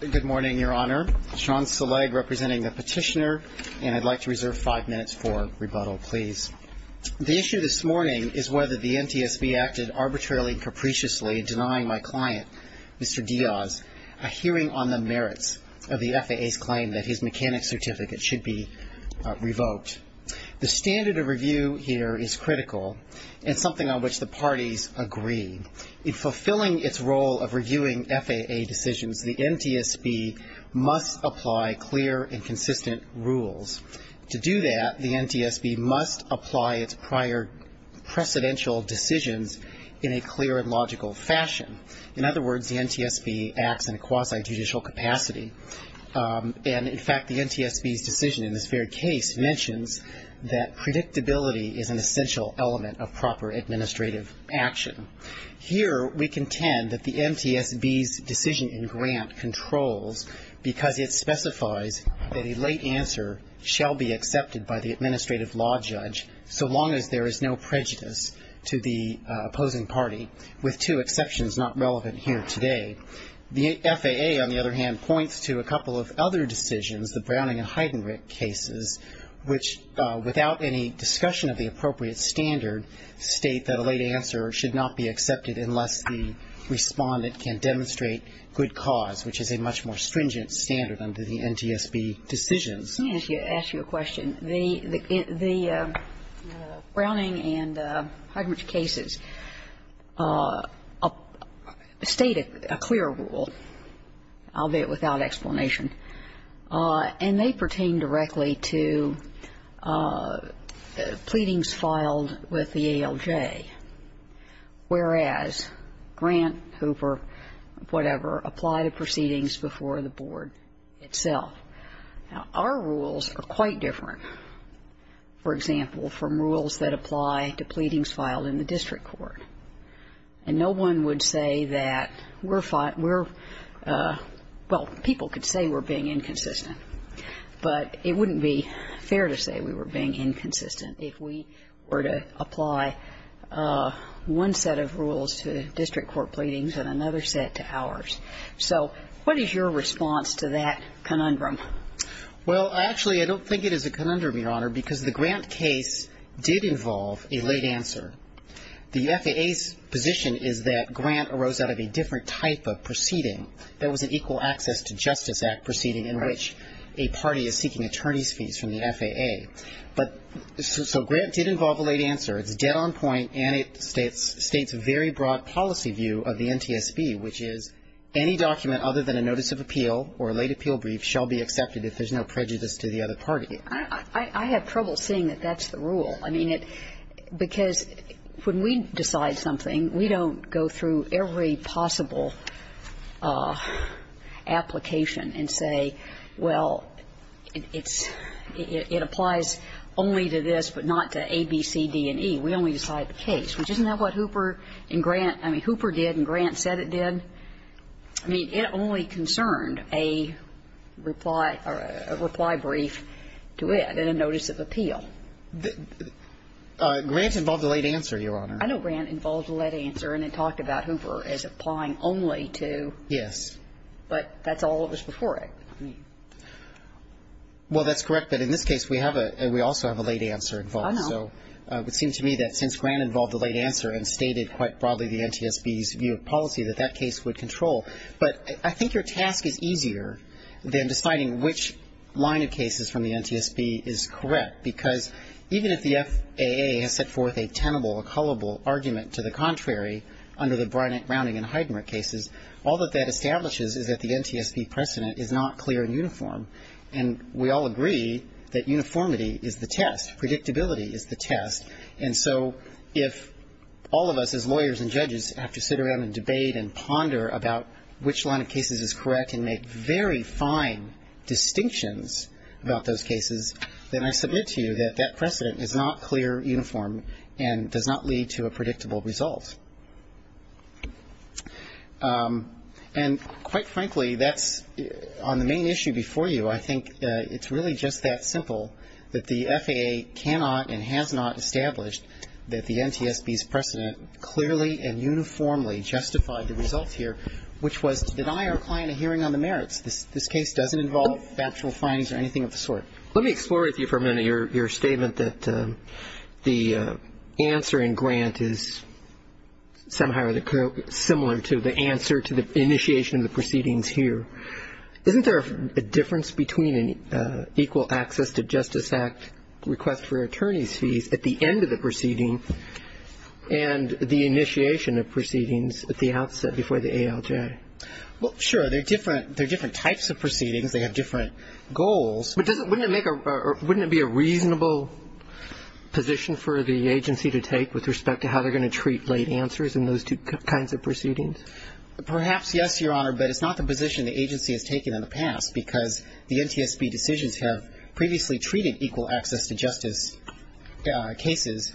The issue this morning is whether the NTSB acted arbitrarily and capriciously in denying my client, Mr. Diaz, a hearing on the merits of the FAA's claim that his mechanics certificate should be revoked. The standard of review here is critical and something on which the parties agree. In fulfilling its role of reviewing FAA decisions, the NTSB must apply clear and consistent rules. To do that, the NTSB must apply its prior precedential decisions in a clear and logical fashion. In other words, the NTSB acts in a quasi-judicial capacity. And in fact, the NTSB's decision in this very case mentions that predictability is an essential element of proper administrative action. Here we contend that the NTSB's decision in Grant controls because it specifies that a late answer shall be accepted by the administrative law judge so long as there is no prejudice to the opposing party, with two exceptions not relevant here today. The FAA, on the other hand, points to a couple of other decisions, the Browning and Heidenreich cases, which, without any discussion of the appropriate standard, state that a late answer should not be accepted unless the respondent can demonstrate good cause, which is a much more stringent standard under the NTSB decisions. Let me ask you a question. The Browning and Heidenreich cases state a clear rule, albeit without explanation, and they pertain directly to pleadings filed with the ALJ, whereas Grant, Hooper, whatever, apply to proceedings before the board itself. Now, our rules are quite different, for example, from rules that apply to pleadings filed in the district court. And no one would say that we're fine, we're, well, people could say we're being inconsistent. But it wouldn't be fair to say we were being inconsistent if we were to apply one set of rules to district court pleadings and another set to ours. So what is your response to that conundrum? Well, actually, I don't think it is a conundrum, Your Honor, because the Grant case did involve a late answer. The FAA's position is that Grant arose out of a different type of proceeding. There was an Equal Access to Justice Act proceeding in which a party is seeking attorneys' fees from the FAA. But so Grant did involve a late answer. It's dead on point, and it states a very broad policy view of the NTSB, which is any document other than a notice of appeal or a late appeal brief shall be accepted if there's no prejudice to the other party. I have trouble seeing that that's the rule. I mean, it – because when we decide something, we don't go through every possible application and say, well, it's – it applies only to this, but not to A, B, C, D, and E. We only decide the case, which isn't that what Hooper and Grant – I mean, Hooper did and Grant said it did? I mean, it only concerned a reply or a reply brief to it and a notice of appeal. Grant involved a late answer, Your Honor. I know Grant involved a late answer and it talked about Hooper as applying only to – Yes. But that's all that was before it. I mean – Well, that's correct. But in this case, we have a – we also have a late answer involved. I know. So it would seem to me that since Grant involved a late answer and stated quite broadly the NTSB's view of policy, that that case would control. But I think your task is easier than deciding which line of cases from the NTSB is correct, because even if the FAA has set forth a tenable, a cullable argument to the contrary under the Browning and Heidemar cases, all that that establishes is that the NTSB precedent is not clear and uniform. And we all agree that uniformity is the test. Predictability is the test. And so if all of us as lawyers and judges have to sit around and debate and ponder about which line of cases is correct and make very fine distinctions about those cases, then I submit to you that that precedent is not clear, uniform, and does not lead to a predictable result. And quite frankly, that's – on the main issue before you, I think it's really just that simple, that the FAA cannot and has not established that the NTSB's precedent clearly and uniformly justified the results here, which was to deny our client a hearing on the merits. This case doesn't involve factual findings or anything of the sort. Let me explore with you for a minute your statement that the answer in Grant is somehow similar to the answer to the initiation of the proceedings here. Isn't there a difference between an equal access to Justice Act request for attorney's fees at the end of the proceeding and the initiation of proceedings at the outset before the ALJ? Well, sure. They're different – they're different types of proceedings. They have different goals. But doesn't – wouldn't it make a – wouldn't it be a reasonable position for the agency to take with respect to how they're going to treat late answers in those two kinds of proceedings? Perhaps yes, Your Honor, but it's not the position the agency has taken in the past because the NTSB decisions have previously treated equal access to justice cases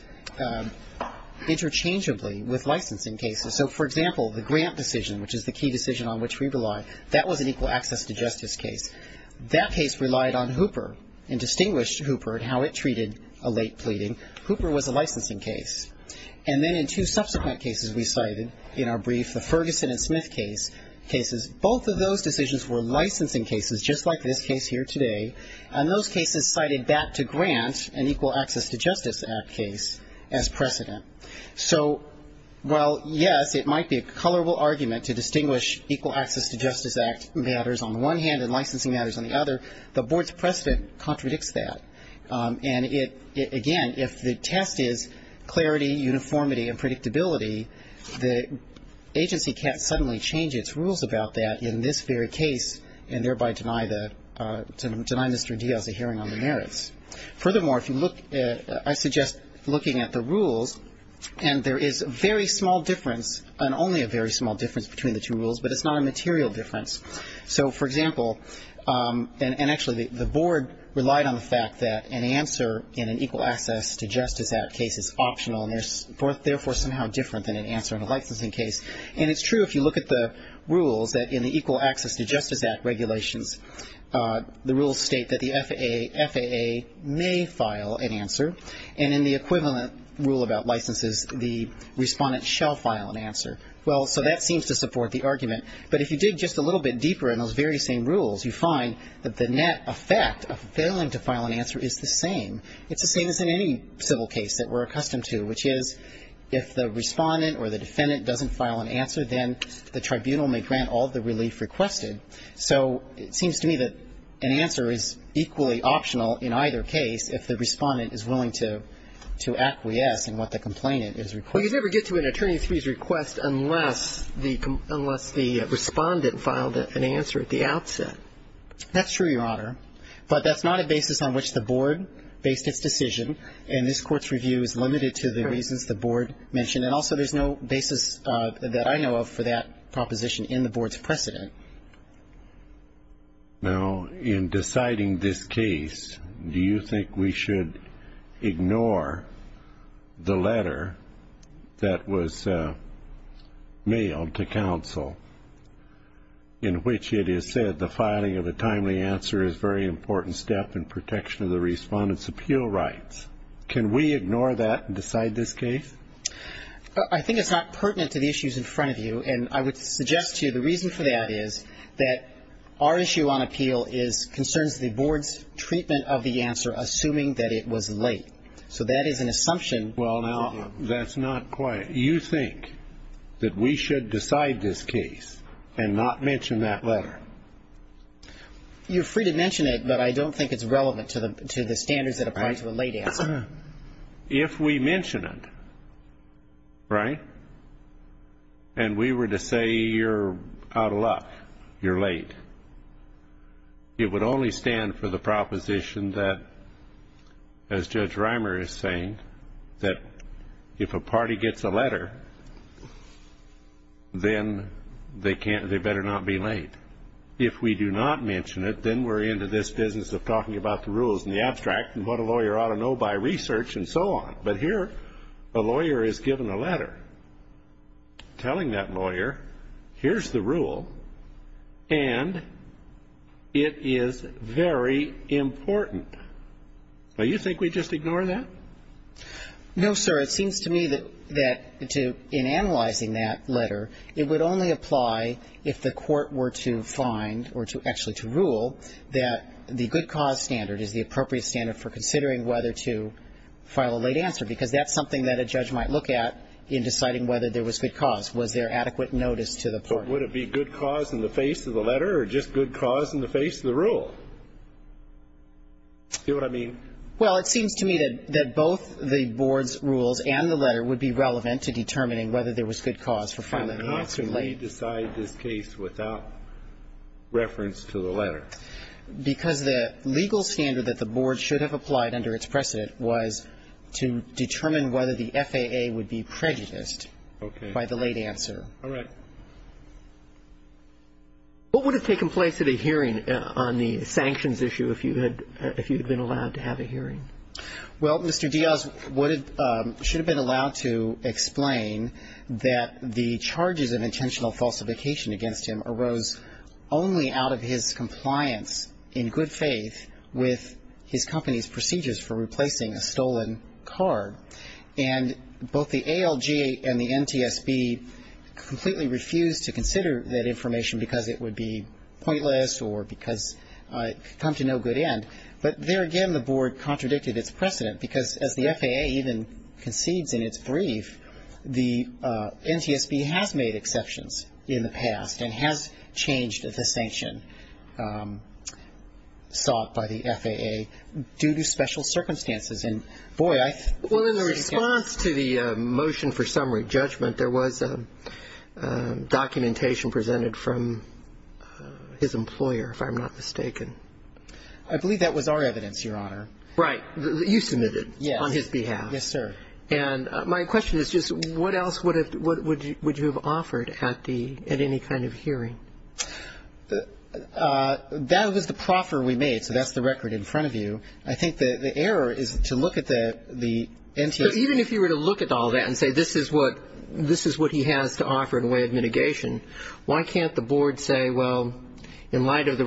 interchangeably with licensing cases. So for example, the Grant decision, which is the key decision on which we rely, that was an equal access to justice case. That case relied on Hooper and distinguished Hooper and how it treated a late pleading. Hooper was a licensing case. And then in two subsequent cases we cited in our brief, the Ferguson and Smith cases, both of those decisions were licensing cases, just like this case here today. And those cases cited that to Grant, an equal access to justice act case, as precedent. So while, yes, it might be a colorable argument to distinguish equal access to justice act matters on the one hand and licensing matters on the other, the Board's precedent contradicts that. And it – again, if the test is clarity, uniformity, and predictability, the agency can't suddenly change its rules about that in this very case and thereby deny the – deny Mr. Diaz a hearing on the merits. Furthermore, if you look at – I suggest looking at the rules, and there is very small difference and only a very small difference between the two rules, but it's not a material difference. So, for example, and actually the Board relied on the fact that an answer in an equal access to justice act case is optional and therefore somehow different than an answer in a licensing case. And it's true if you look at the rules that in the equal access to justice act regulations, the rules state that the FAA may file an answer, and in the equivalent rule about licenses, the respondent shall file an answer. Well, so that seems to support the argument. But if you dig just a little bit deeper in those very same rules, you find that the net effect of failing to file an answer is the same. It's the same as in any civil case that we're accustomed to, which is if the respondent or the defendant doesn't file an answer, then the tribunal may grant all the relief requested. So it seems to me that an answer is equally optional in either case if the respondent is willing to acquiesce in what the complainant is requesting. But you can't get to an attorney's fees request unless the respondent filed an answer at the outset. That's true, Your Honor. But that's not a basis on which the Board based its decision, and this Court's review is limited to the reasons the Board mentioned. And also there's no basis that I know of for that proposition in the Board's precedent. Now, in deciding this case, do you think we should ignore the letter that was mailed to counsel in which it is said the filing of a timely answer is a very important step in protection of the respondent's appeal rights? Can we ignore that and decide this case? I think it's not pertinent to the issues in front of you, and I would suggest to you the reason for that is that our issue on appeal concerns the Board's treatment of the answer assuming that it was late. So that is an assumption. Well, now, that's not quite. You think that we should decide this case and not mention that letter? You're free to mention it, but I don't think it's relevant to the standards that apply to a late answer. If we mention it, right, and we were to say you're out of luck, you're late, it would only stand for the proposition that, as Judge Reimer is saying, that if a party gets a letter, then they better not be late. If we do not mention it, then we're into this business of talking about the rules and the abstract, and what a lawyer ought to know by research and so on. But here, a lawyer is given a letter telling that lawyer, here's the rule, and it is very important. Now, you think we just ignore that? No, sir. It seems to me that in analyzing that letter, it would only apply if the court were to find or to rule that the good cause standard is the appropriate standard for considering whether to file a late answer, because that's something that a judge might look at in deciding whether there was good cause. Was there adequate notice to the court? Would it be good cause in the face of the letter or just good cause in the face of the rule? Do you know what I mean? Well, it seems to me that both the board's rules and the letter would be relevant to determining whether there was good cause for filing the answer late. Why did they decide this case without reference to the letter? Because the legal standard that the board should have applied under its precedent was to determine whether the FAA would be prejudiced by the late answer. Okay. All right. What would have taken place at a hearing on the sanctions issue if you had been allowed to have a hearing? Well, Mr. Diaz should have been allowed to explain that the charges of intentional falsification against him arose only out of his compliance, in good faith, with his company's procedures for replacing a stolen card. And both the ALG and the NTSB completely refused to consider that information because it would be pointless or because it could come to no good end. But there again, the board contradicted its precedent because as the FAA even concedes in its brief, the NTSB has made exceptions in the past and has changed the sanction sought by the FAA due to special circumstances. And, boy, I think this is getting... Well, in the response to the motion for summary judgment, there was documentation presented from his employer, if I'm not mistaken. I believe that was our evidence, Your Honor. Right. You submitted on his behalf. Yes, sir. And my question is just what else would you have offered at any kind of hearing? That was the proffer we made, so that's the record in front of you. I think the error is to look at the NTSB... But even if you were to look at all that and say this is what he has to offer in a way of mitigation, why can't the board say, well, in light of the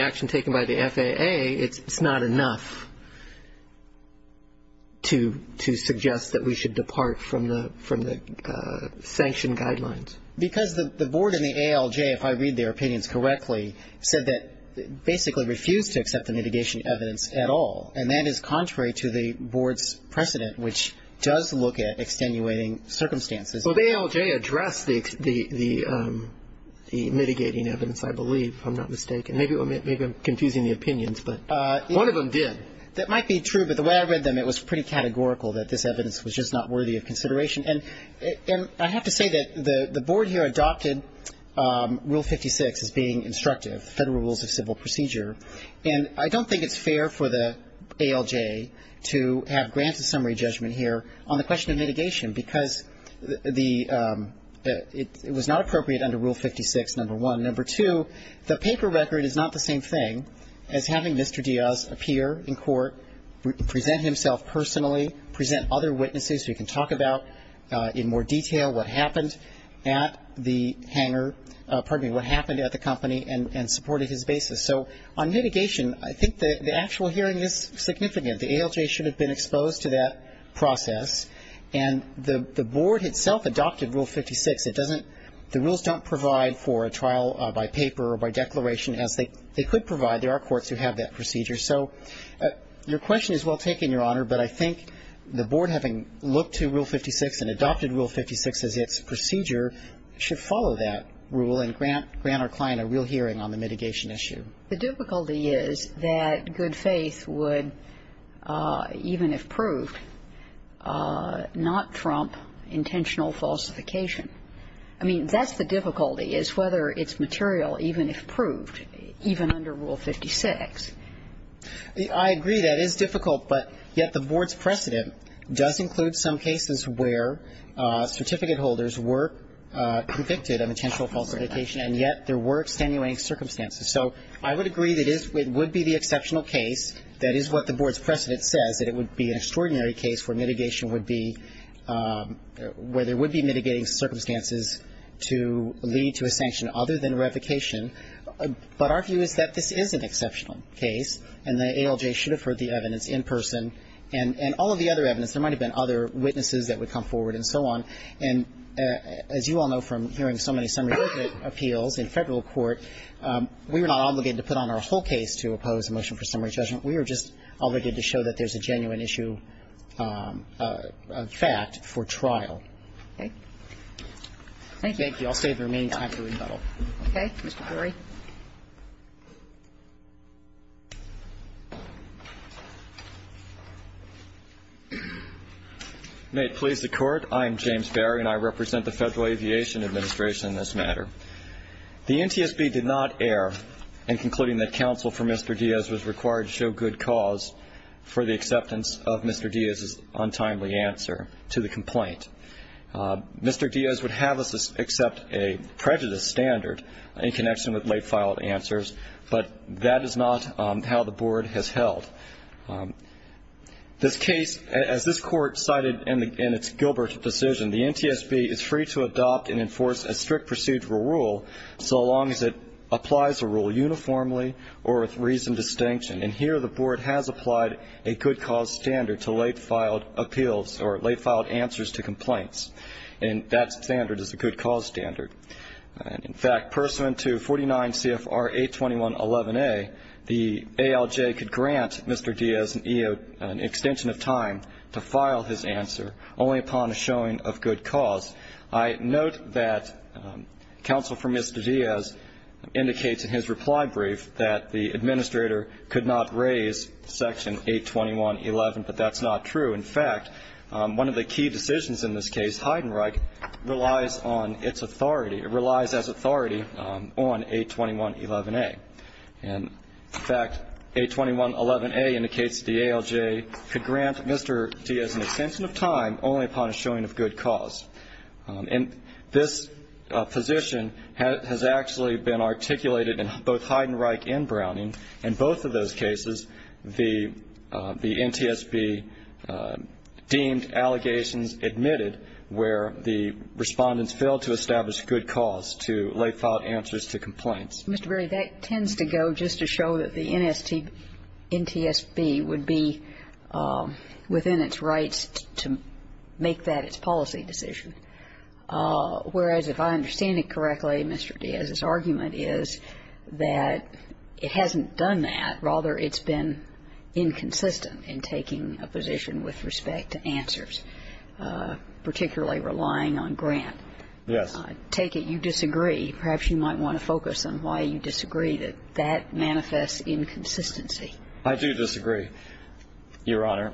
action taken by the FAA, it's not enough to suggest that we should depart from the sanction guidelines? Because the board and the ALJ, if I read their opinions correctly, said that basically refused to accept the mitigation evidence at all, and that is contrary to the board's precedent, which does look at extenuating circumstances. Well, the ALJ addressed the mitigating evidence, I believe, if I'm not mistaken. Maybe I'm confusing the opinions, but one of them did. That might be true, but the way I read them, it was pretty categorical that this evidence was just not worthy of consideration. And I have to say that the board here adopted Rule 56 as being instructive, the Federal Rules of Civil Procedure, and I don't think it's fair for the ALJ to have granted summary judgment here on the question of mitigation, because it was not appropriate under Rule 56, number one. Number two, the paper record is not the same thing as having Mr. Diaz appear in court, present himself personally, present other witnesses who he can talk about in more detail what happened at the hangar pardon me, what happened at the company and supported his basis. So on mitigation, I think the actual hearing is significant. The ALJ should have been exposed to that process, and the board itself adopted Rule 56. It doesn't the rules don't provide for a trial by paper or by declaration as they could provide. There are courts who have that procedure. So your question is well taken, Your Honor, but I think the board having looked to Rule 56 and adopted Rule 56 as its procedure should follow that rule and grant our client a real hearing on the mitigation issue. The difficulty is that good faith would, even if proved, not trump intentional falsification. I mean, that's the difficulty, is whether it's material even if proved, even under Rule 56. I agree. That is difficult, but yet the board's precedent does include some cases where certificate holders were convicted of intentional falsification, and yet there were extenuating circumstances. So I would agree that it would be the exceptional case, that is what the board's precedent says, that it would be an extraordinary case where mitigation would be, where there would be mitigating circumstances to lead to a sanction other than revocation. But our view is that this is an exceptional case, and the ALJ should have heard the evidence in person. And all of the other evidence, there might have been other witnesses that would come forward and so on. And as you all know from hearing so many summary judgment appeals in Federal court, we were not obligated to put on our whole case to oppose a motion for summary judgment. We were just obligated to show that there's a genuine issue, a fact for trial. Okay. Thank you. Thank you. I'll save the remaining time for rebuttal. Okay. Mr. Dorey. May it please the Court. I am James Berry, and I represent the Federal Aviation Administration in this matter. The NTSB did not err in concluding that counsel for Mr. Diaz was required to show good cause for the acceptance of Mr. Diaz's untimely answer to the complaint. Mr. Diaz would have us accept a prejudice standard in connection with late-filed answers, but that is not how the board has held. This case, as this Court cited in its Gilbert decision, the NTSB is free to adopt and enforce a strict procedural rule so long as it applies a rule uniformly or with reasoned distinction. And here the board has applied a good cause standard to late-filed appeals or late-filed answers to complaints, and that standard is a good cause standard. In fact, pursuant to 49 CFR 82111A, the ALJ could grant Mr. Diaz an extension of time to file his answer only upon a showing of good cause. I note that counsel for Mr. Diaz indicates in his reply brief that the administrator could not raise Section 82111, but that's not true. In fact, one of the key decisions in this case, Heidenreich, relies on its authority. It relies as authority on 82111A. And, in fact, 82111A indicates the ALJ could grant Mr. Diaz an extension of time only upon a showing of good cause. And this position has actually been articulated in both Heidenreich and Browning. In both of those cases, the NTSB deemed allegations admitted where the Respondents failed to establish good cause to late-filed answers to complaints. Mr. Berry, that tends to go just to show that the NTSB would be within its rights to make that its policy decision, whereas if I understand it correctly, Mr. Diaz's that it hasn't done that. Rather, it's been inconsistent in taking a position with respect to answers, particularly relying on grant. Yes. I take it you disagree. Perhaps you might want to focus on why you disagree that that manifests inconsistency. I do disagree, Your Honor.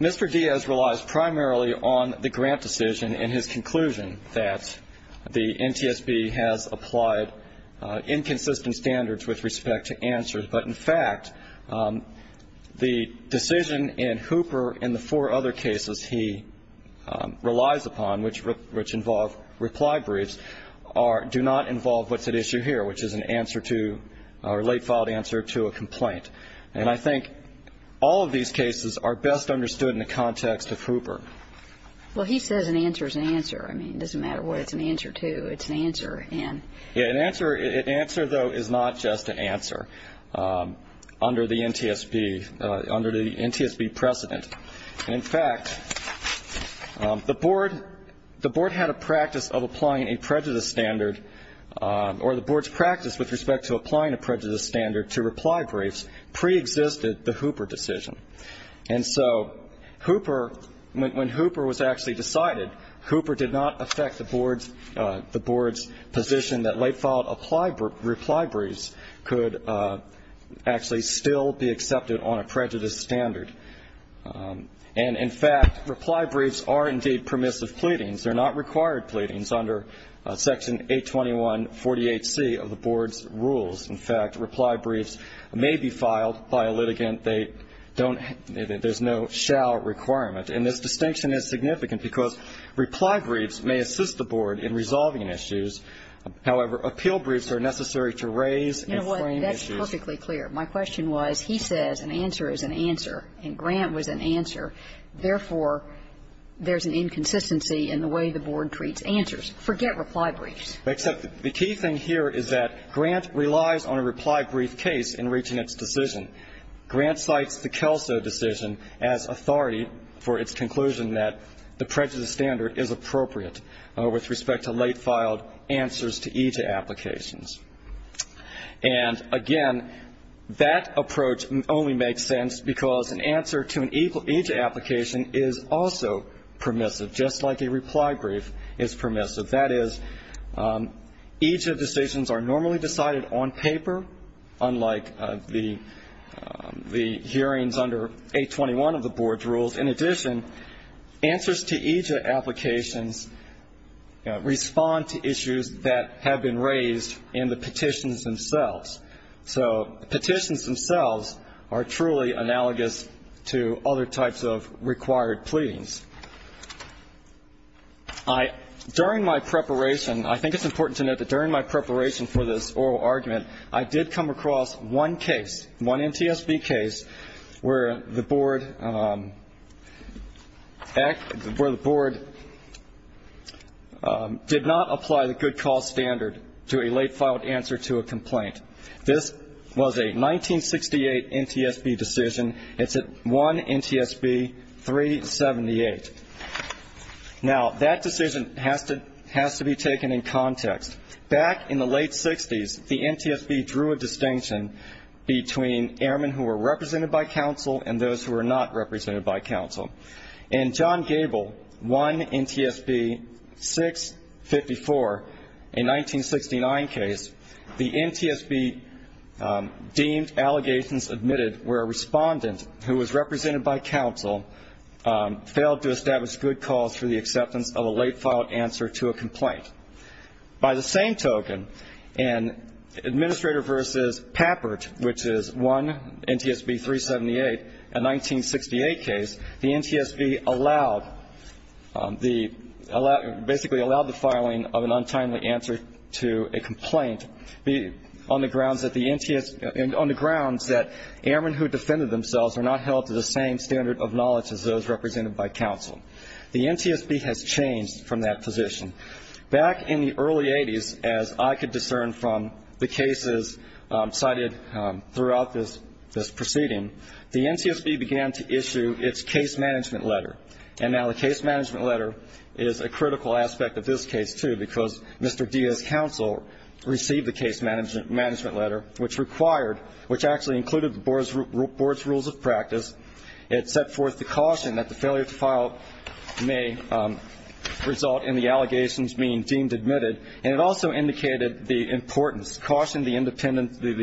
Mr. Diaz relies primarily on the grant decision in his conclusion that the NTSB has applied inconsistent standards with respect to answers. But, in fact, the decision in Hooper and the four other cases he relies upon, which involve reply briefs, do not involve what's at issue here, which is an answer to or late-filed answer to a complaint. And I think all of these cases are best understood in the context of Hooper. Well, he says an answer is an answer. I mean, it doesn't matter what it's an answer to. It's an answer. Yeah, an answer, though, is not just an answer under the NTSB precedent. And, in fact, the Board had a practice of applying a prejudice standard, or the Board's practice with respect to applying a prejudice standard to reply briefs preexisted the Hooper decision. And so Hooper, when Hooper was actually decided, Hooper did not affect the Board's position that late-filed reply briefs could actually still be accepted on a prejudice standard. And, in fact, reply briefs are indeed permissive pleadings. They're not required pleadings under Section 82148C of the Board's rules. In fact, reply briefs may be filed by a litigant. They don't have to. There's no shall requirement. And this distinction is significant because reply briefs may assist the Board in resolving issues. However, appeal briefs are necessary to raise and frame issues. You know what, that's perfectly clear. My question was, he says an answer is an answer, and Grant was an answer. Therefore, there's an inconsistency in the way the Board treats answers. Forget reply briefs. Except the key thing here is that Grant relies on a reply brief case in reaching its decision. Grant cites the Kelso decision as authority for its conclusion that the prejudice standard is appropriate with respect to late-filed answers to EJA applications. And, again, that approach only makes sense because an answer to an EJA application is also permissive, just like a reply brief is permissive. That is, EJA decisions are normally decided on paper, unlike the hearings under 821 of the Board's rules. In addition, answers to EJA applications respond to issues that have been raised in the petitions themselves. So petitions themselves are truly analogous to other types of required pleadings. During my preparation, I think it's important to note that during my preparation for this oral argument, I did come across one case, one NTSB case, where the Board did not apply the good cause standard to a late-filed answer to a complaint. This was a 1968 NTSB decision. It's at 1 NTSB 378. Now, that decision has to be taken in context. Back in the late 60s, the NTSB drew a distinction between airmen who were represented by counsel and those who were not represented by counsel. In John Gable, 1 NTSB 654, a 1969 case, the NTSB deemed allegations admitted where a respondent who was represented by counsel failed to establish good cause for the acceptance of a late-filed answer to a complaint. By the same token, in Administrator v. Papert, which is 1 NTSB 378, a 1968 case, the NTSB basically allowed the filing of an untimely answer to a complaint on the grounds that airmen who defended themselves were not held to the same standard of knowledge as those represented by counsel. The NTSB has changed from that position. Back in the early 80s, as I could discern from the cases cited throughout this proceeding, the NTSB began to issue its case management letter. And now the case management letter is a critical aspect of this case, too, because Mr. Diaz's counsel received the case management letter, which required, which actually included the Board's rules of practice. It set forth the caution that the failure to file may result in the allegations being deemed admitted. And it also indicated the importance, cautioned the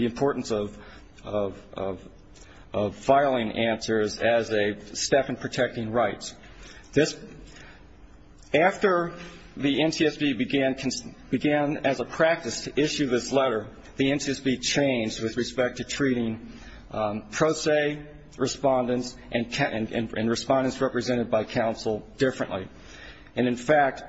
importance of filing answers as a step in protecting rights. After the NTSB began as a practice to issue this letter, the NTSB changed with respect to treating pro se respondents and respondents represented by counsel differently. And, in fact,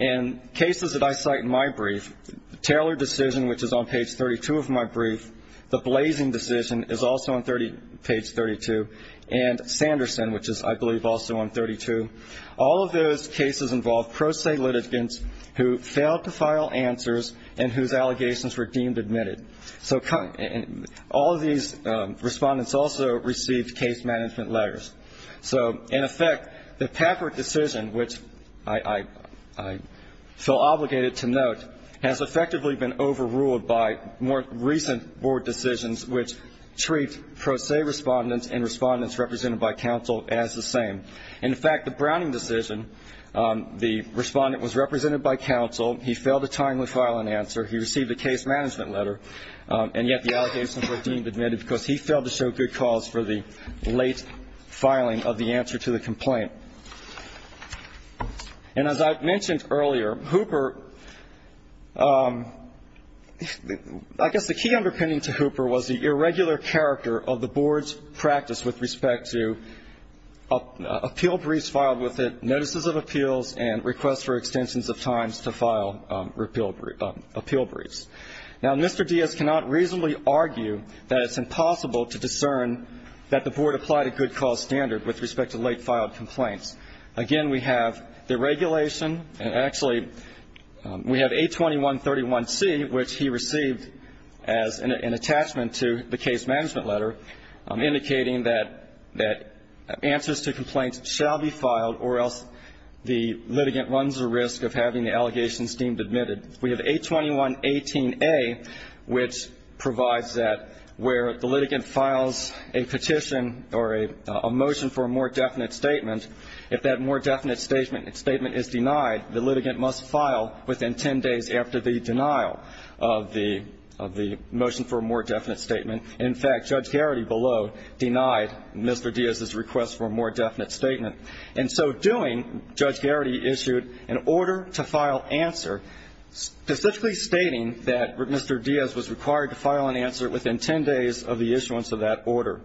in cases that I cite in my brief, Taylor decision, which is on page 32 of my brief, the Blazing decision is also on page 32, and Sanderson, which is, I believe, also on 32. All of those cases involved pro se litigants who failed to file answers and whose allegations were deemed admitted. So all of these respondents also received case management letters. So, in effect, the Papert decision, which I feel obligated to note, has effectively been overruled by more recent Board decisions, which treat pro se respondents and respondents represented by counsel as the same. In fact, the Browning decision, the respondent was represented by counsel. He failed to timely file an answer. He received a case management letter, and yet the allegations were deemed admitted because he failed to show good cause for the late filing of the answer to the complaint. And as I mentioned earlier, Hooper, I guess the key underpinning to Hooper was the irregular character of the Board's practice with respect to appeal briefs filed with it, notices of appeals, and requests for extensions of times to file appeal briefs. Now, Mr. Diaz cannot reasonably argue that it's impossible to discern that the Board applied a good cause standard with respect to late filed complaints. Again, we have the regulation, and actually we have A2131C, which he received as an attachment to the case management letter indicating that answers to complaints shall be filed or else the litigant runs the risk of having the allegations deemed admitted. We have A2118A, which provides that where the litigant files a petition or a motion for a more definite statement, if that more definite statement is denied, the litigant must file within ten days after the denial of the motion for a more definite statement. In fact, Judge Garrity below denied Mr. Diaz's request for a more definite statement. In so doing, Judge Garrity issued an order to file answer specifically stating that Mr. Diaz was required to file an answer within ten days of the issuance of that order.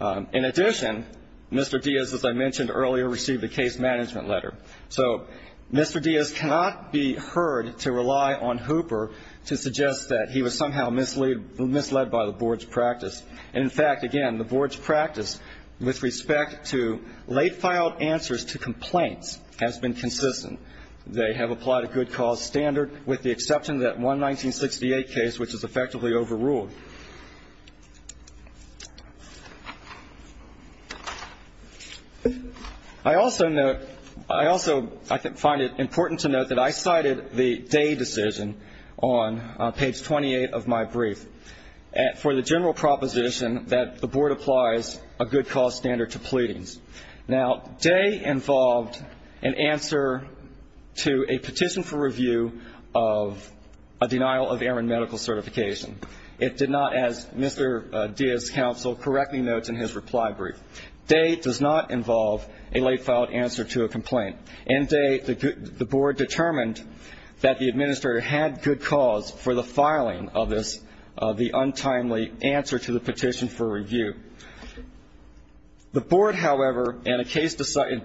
In addition, Mr. Diaz, as I mentioned earlier, received a case management letter. So Mr. Diaz cannot be heard to rely on Hooper to suggest that he was somehow misled by the Board's practice. In fact, again, the Board's practice with respect to late filed answers to complaints has been consistent. They have applied a good cause standard with the exception of that one 1968 case, which is effectively overruled. I also note, I also find it important to note that I cited the day decision on page 28 of my brief. For the general proposition that the Board applies a good cause standard to pleadings. Now, day involved an answer to a petition for review of a denial of errant medical certification. It did not, as Mr. Diaz's counsel correctly notes in his reply brief, day does not involve a late filed answer to a complaint. And day, the Board determined that the administrator had good cause for the filing of this, of the untimely answer to the petition for review. The Board, however, in a case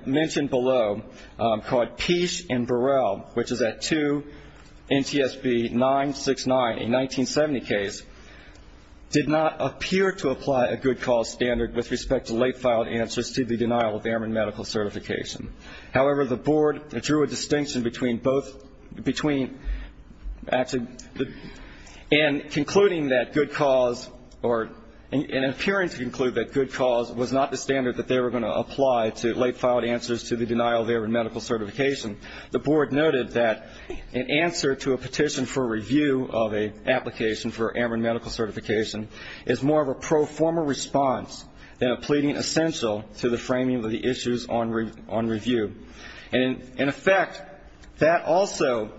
mentioned below called Peash and Burrell, which is at 2 NTSB 969, a 1970 case, did not appear to apply a good cause standard with respect to late filed answers to the denial of errant medical certification. However, the Board drew a distinction between both, between actually in concluding that good cause or in appearing to conclude that good cause was not the standard that they were going to apply to late filed answers to the denial of errant medical certification. The Board noted that an answer to a petition for review of an application for errant medical certification is more of a pro forma response than a pleading essential to the framing of the issues on review. And in effect, that also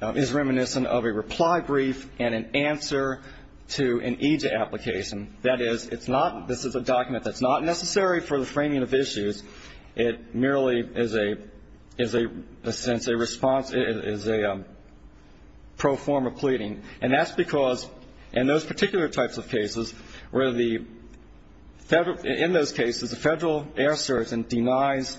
is reminiscent of a reply brief and an answer to an EJ application. That is, it's not, this is a document that's not necessary for the framing of issues. It merely is a response, is a pro forma pleading. And that's because in those particular types of cases where the, in those cases, the Federal air surgeon denies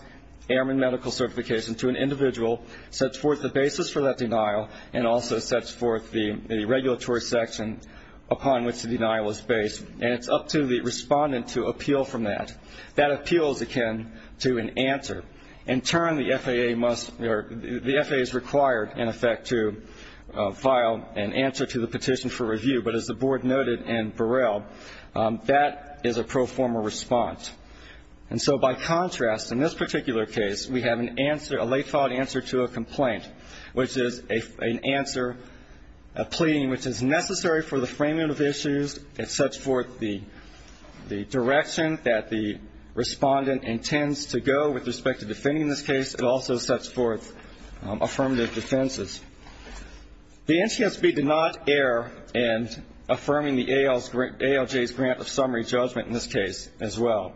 errant medical certification to an individual, sets forth the basis for that denial, and also sets forth the regulatory section upon which the denial is based. And it's up to the respondent to appeal from that. That appeal is akin to an answer. In turn, the FAA must, or the FAA is required, in effect, to file an answer to the petition for review. But as the Board noted in Burrell, that is a pro forma response. And so by contrast, in this particular case, we have an answer, a late filed answer to a complaint, which is an answer, a pleading which is necessary for the framing of issues. It sets forth the direction that the respondent intends to go with respect to defending this case. It also sets forth affirmative defenses. The NCSB did not err in affirming the ALJ's grant of summary judgment in this case as well.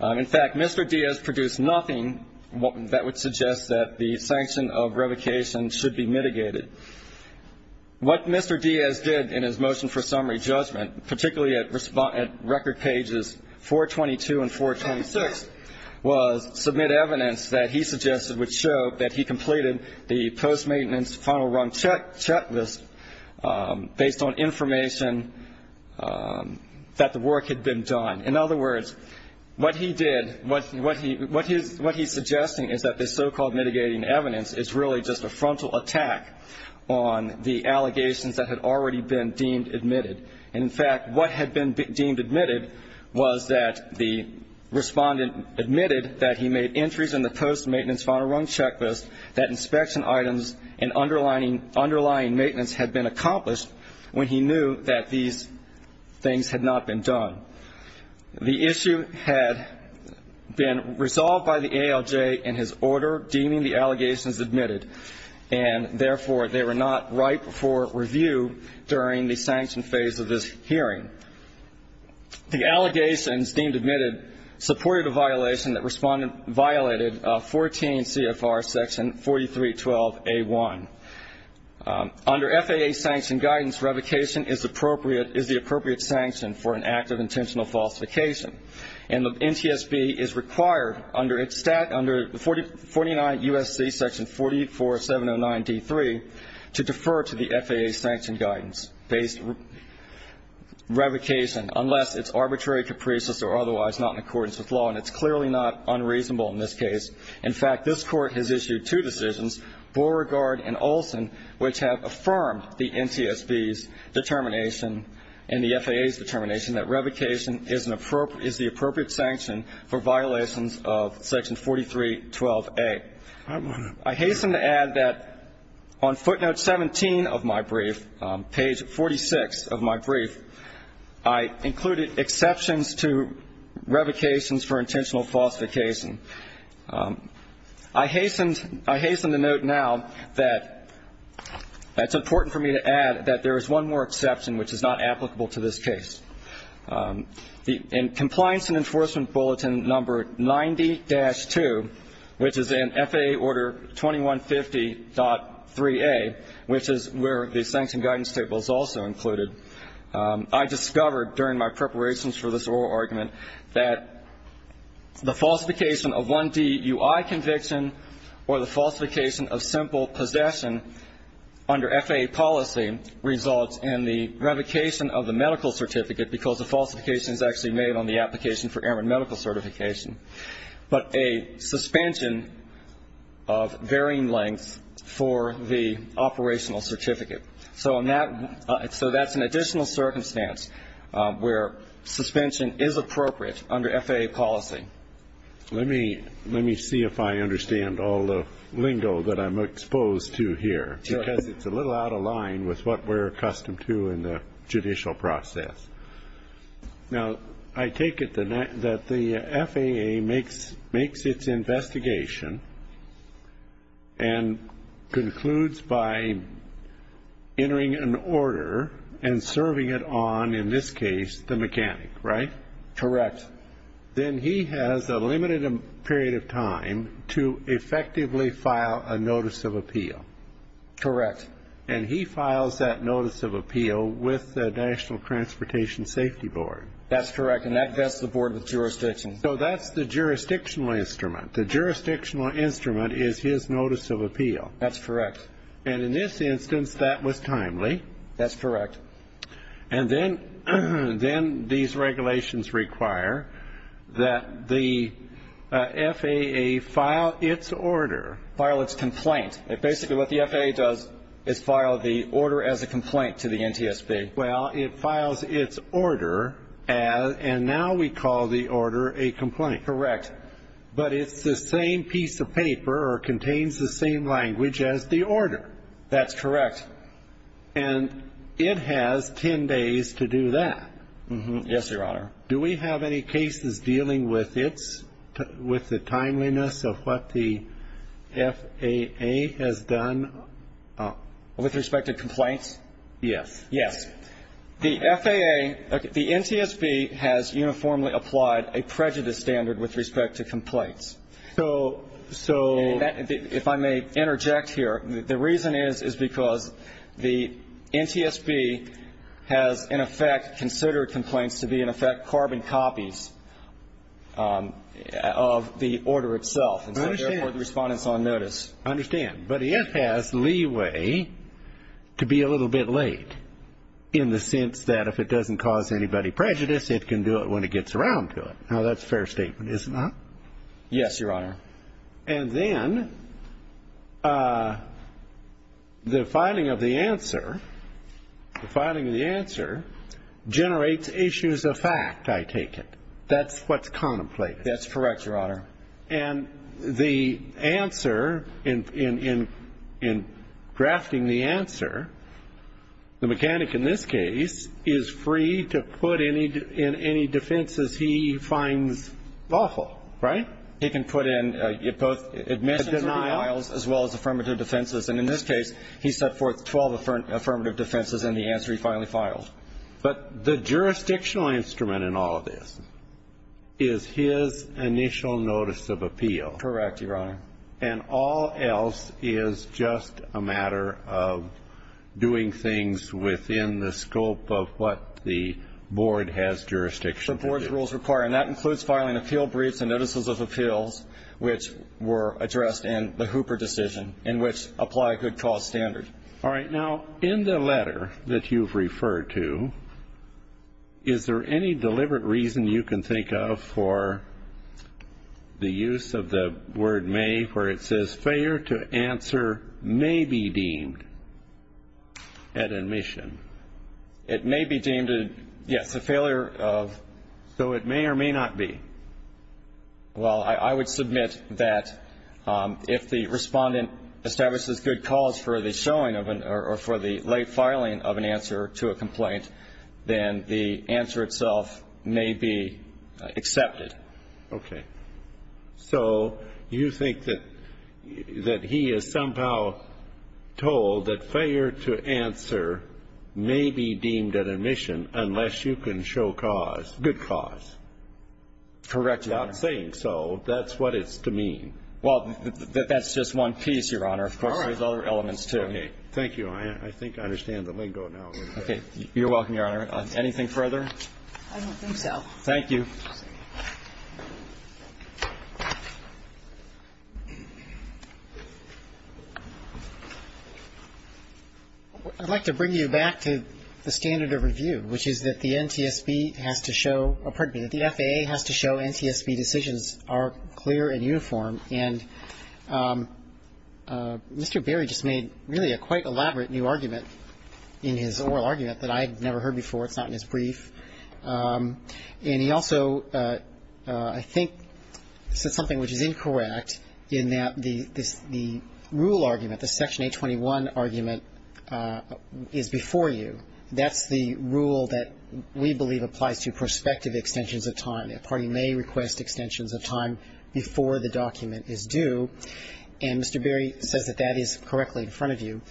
In fact, Mr. Diaz produced nothing that would suggest that the sanction of revocation should be mitigated. What Mr. Diaz did in his motion for summary judgment, particularly at record pages 422 and 426, was submit evidence that he suggested would show that he completed the post-maintenance final run checklist based on information that the work had been done. In other words, what he did, what he's suggesting is that this so-called mitigating evidence is really just a frontal attack on the allegations that had already been deemed admitted. And in fact, what had been deemed admitted was that the respondent admitted that he made entries in the post-maintenance final run checklist that inspection items and underlying maintenance had been accomplished when he knew that these things had not been done. The issue had been resolved by the ALJ in his order deeming the allegations admitted, and therefore they were not ripe for review during the sanction phase of this hearing. The allegations deemed admitted supported a violation that respondent violated 14 CFR section 4312A1. Under FAA sanction guidance, revocation is the appropriate sanction for an act of intentional falsification. And the NTSB is required under 49 U.S.C. section 44709D3 to defer to the FAA sanction guidance based revocation unless it's arbitrary, capricious, or otherwise not in accordance with law. And it's clearly not unreasonable in this case. In fact, this Court has issued two decisions, Beauregard and Olson, which have affirmed the NTSB's determination and the FAA's determination that revocation is the appropriate sanction for violations of section 4312A. I hasten to add that on footnote 17 of my brief, page 46 of my brief, I included exceptions to revocations for intentional falsification. I hasten to note now that it's important for me to add that there is one more exception which is not applicable to this case. In Compliance and Enforcement Bulletin number 90-2, which is in FAA Order 2150.3A, which is where the sanction guidance table is also included, I discovered during my preparations for this oral argument that the falsification of 1D UI conviction or the falsification of simple possession under FAA policy results in the revocation of the medical certificate, because the falsification is actually made on the application for airman medical certification, but a suspension of varying lengths for the operational certificate. So that's an additional circumstance where suspension is appropriate under FAA policy. Let me see if I understand all the lingo that I'm exposed to here, because it's a little out of line with what we're accustomed to in the judicial process. Now, I take it that the FAA makes its investigation and concludes by entering an order and serving it on, in this case, the mechanic, right? Correct. Then he has a limited period of time to effectively file a notice of appeal. Correct. And he files that notice of appeal with the National Transportation Safety Board. That's correct, and that's the Board of Jurisdictions. So that's the jurisdictional instrument. The jurisdictional instrument is his notice of appeal. That's correct. And in this instance, that was timely. That's correct. And then these regulations require that the FAA file its order. File its complaint. Basically what the FAA does is file the order as a complaint to the NTSB. Well, it files its order, and now we call the order a complaint. Correct. But it's the same piece of paper or contains the same language as the order. That's correct. And it has 10 days to do that. Yes, Your Honor. Do we have any cases dealing with the timeliness of what the FAA has done? With respect to complaints? Yes. Yes. The FAA, the NTSB has uniformly applied a prejudice standard with respect to complaints. So that, if I may interject here, the reason is because the NTSB has, in effect, considered complaints to be, in effect, carbon copies of the order itself. I understand. And so, therefore, the Respondent's on notice. I understand. But it has leeway to be a little bit late in the sense that if it doesn't cause anybody prejudice, it can do it when it gets around to it. Now, that's a fair statement, is it not? Yes, Your Honor. And then the filing of the answer generates issues of fact, I take it. That's what's contemplated. That's correct, Your Honor. And the answer, in drafting the answer, the mechanic in this case is free to put in any defenses he finds lawful, right? He can put in both admissions and denials, as well as affirmative defenses. And in this case, he set forth 12 affirmative defenses in the answer he finally filed. But the jurisdictional instrument in all of this is his initial notice of appeal. Correct, Your Honor. And all else is just a matter of doing things within the scope of what the board has jurisdiction to do. And that includes filing appeal briefs and notices of appeals, which were addressed in the Hooper decision, in which apply a good cause standard. All right. Now, in the letter that you've referred to, is there any deliberate reason you can think of for the use of the word may, where it says failure to answer may be deemed an admission? It may be deemed a, yes. It's a failure of? So it may or may not be. Well, I would submit that if the respondent establishes good cause for the showing of or for the late filing of an answer to a complaint, then the answer itself may be accepted. Okay. So you think that he is somehow told that failure to answer may be deemed an admission unless you can show cause, good cause? Correct, Your Honor. Not saying so. That's what it's to mean. Well, that's just one piece, Your Honor. Of course, there's other elements, too. Okay. Thank you. I think I understand the lingo now. Okay. You're welcome, Your Honor. Anything further? I don't think so. Thank you. Thank you. I'd like to bring you back to the standard of review, which is that the NTSB has to show or, pardon me, that the FAA has to show NTSB decisions are clear and uniform. And Mr. Berry just made really a quite elaborate new argument in his oral argument that I had never heard before. It's not in his brief. And he also, I think, said something which is incorrect in that the rule argument, the Section 821 argument, is before you. That's the rule that we believe applies to prospective extensions of time. A party may request extensions of time before the document is due. And Mr. Berry says that that is correctly in front of you.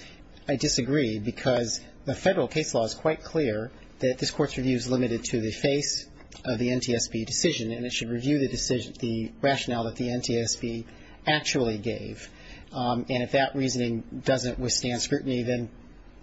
I disagree because the Federal case law is quite clear that this Court's review is limited to the face of the NTSB decision, and it should review the rationale that the NTSB actually gave. And if that reasoning doesn't withstand scrutiny, then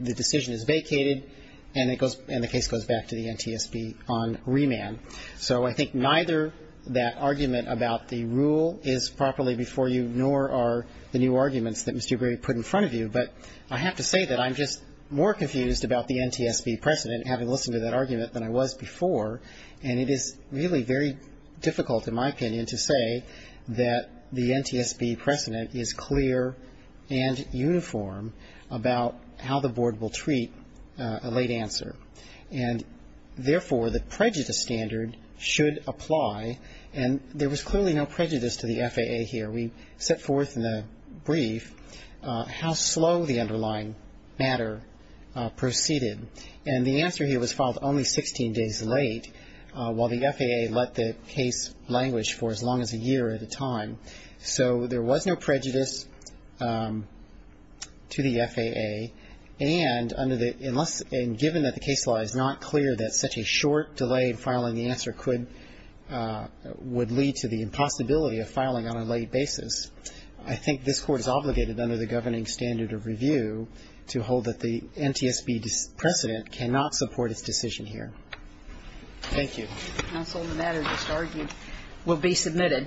the decision is vacated and the case goes back to the NTSB on remand. So I think neither that argument about the rule is properly before you, nor are the new arguments that Mr. Berry put in front of you. But I have to say that I'm just more confused about the NTSB precedent, having listened to that argument, than I was before. And it is really very difficult, in my opinion, to say that the NTSB precedent is clear and uniform about how the Board will treat a late answer. And therefore, the prejudice standard should apply. And there was clearly no prejudice to the FAA here. We set forth in the brief how slow the underlying matter proceeded. And the answer here was filed only 16 days late, while the FAA let the case language for as long as a year at a time. So there was no prejudice to the FAA. And given that the case law is not clear that such a short delay in filing the answer would lead to the impossibility of filing on a late basis, I think this Court is obligated under the governing standard of review to hold that the NTSB precedent cannot support its decision here. Thank you. Counsel, the matter just argued will be submitted.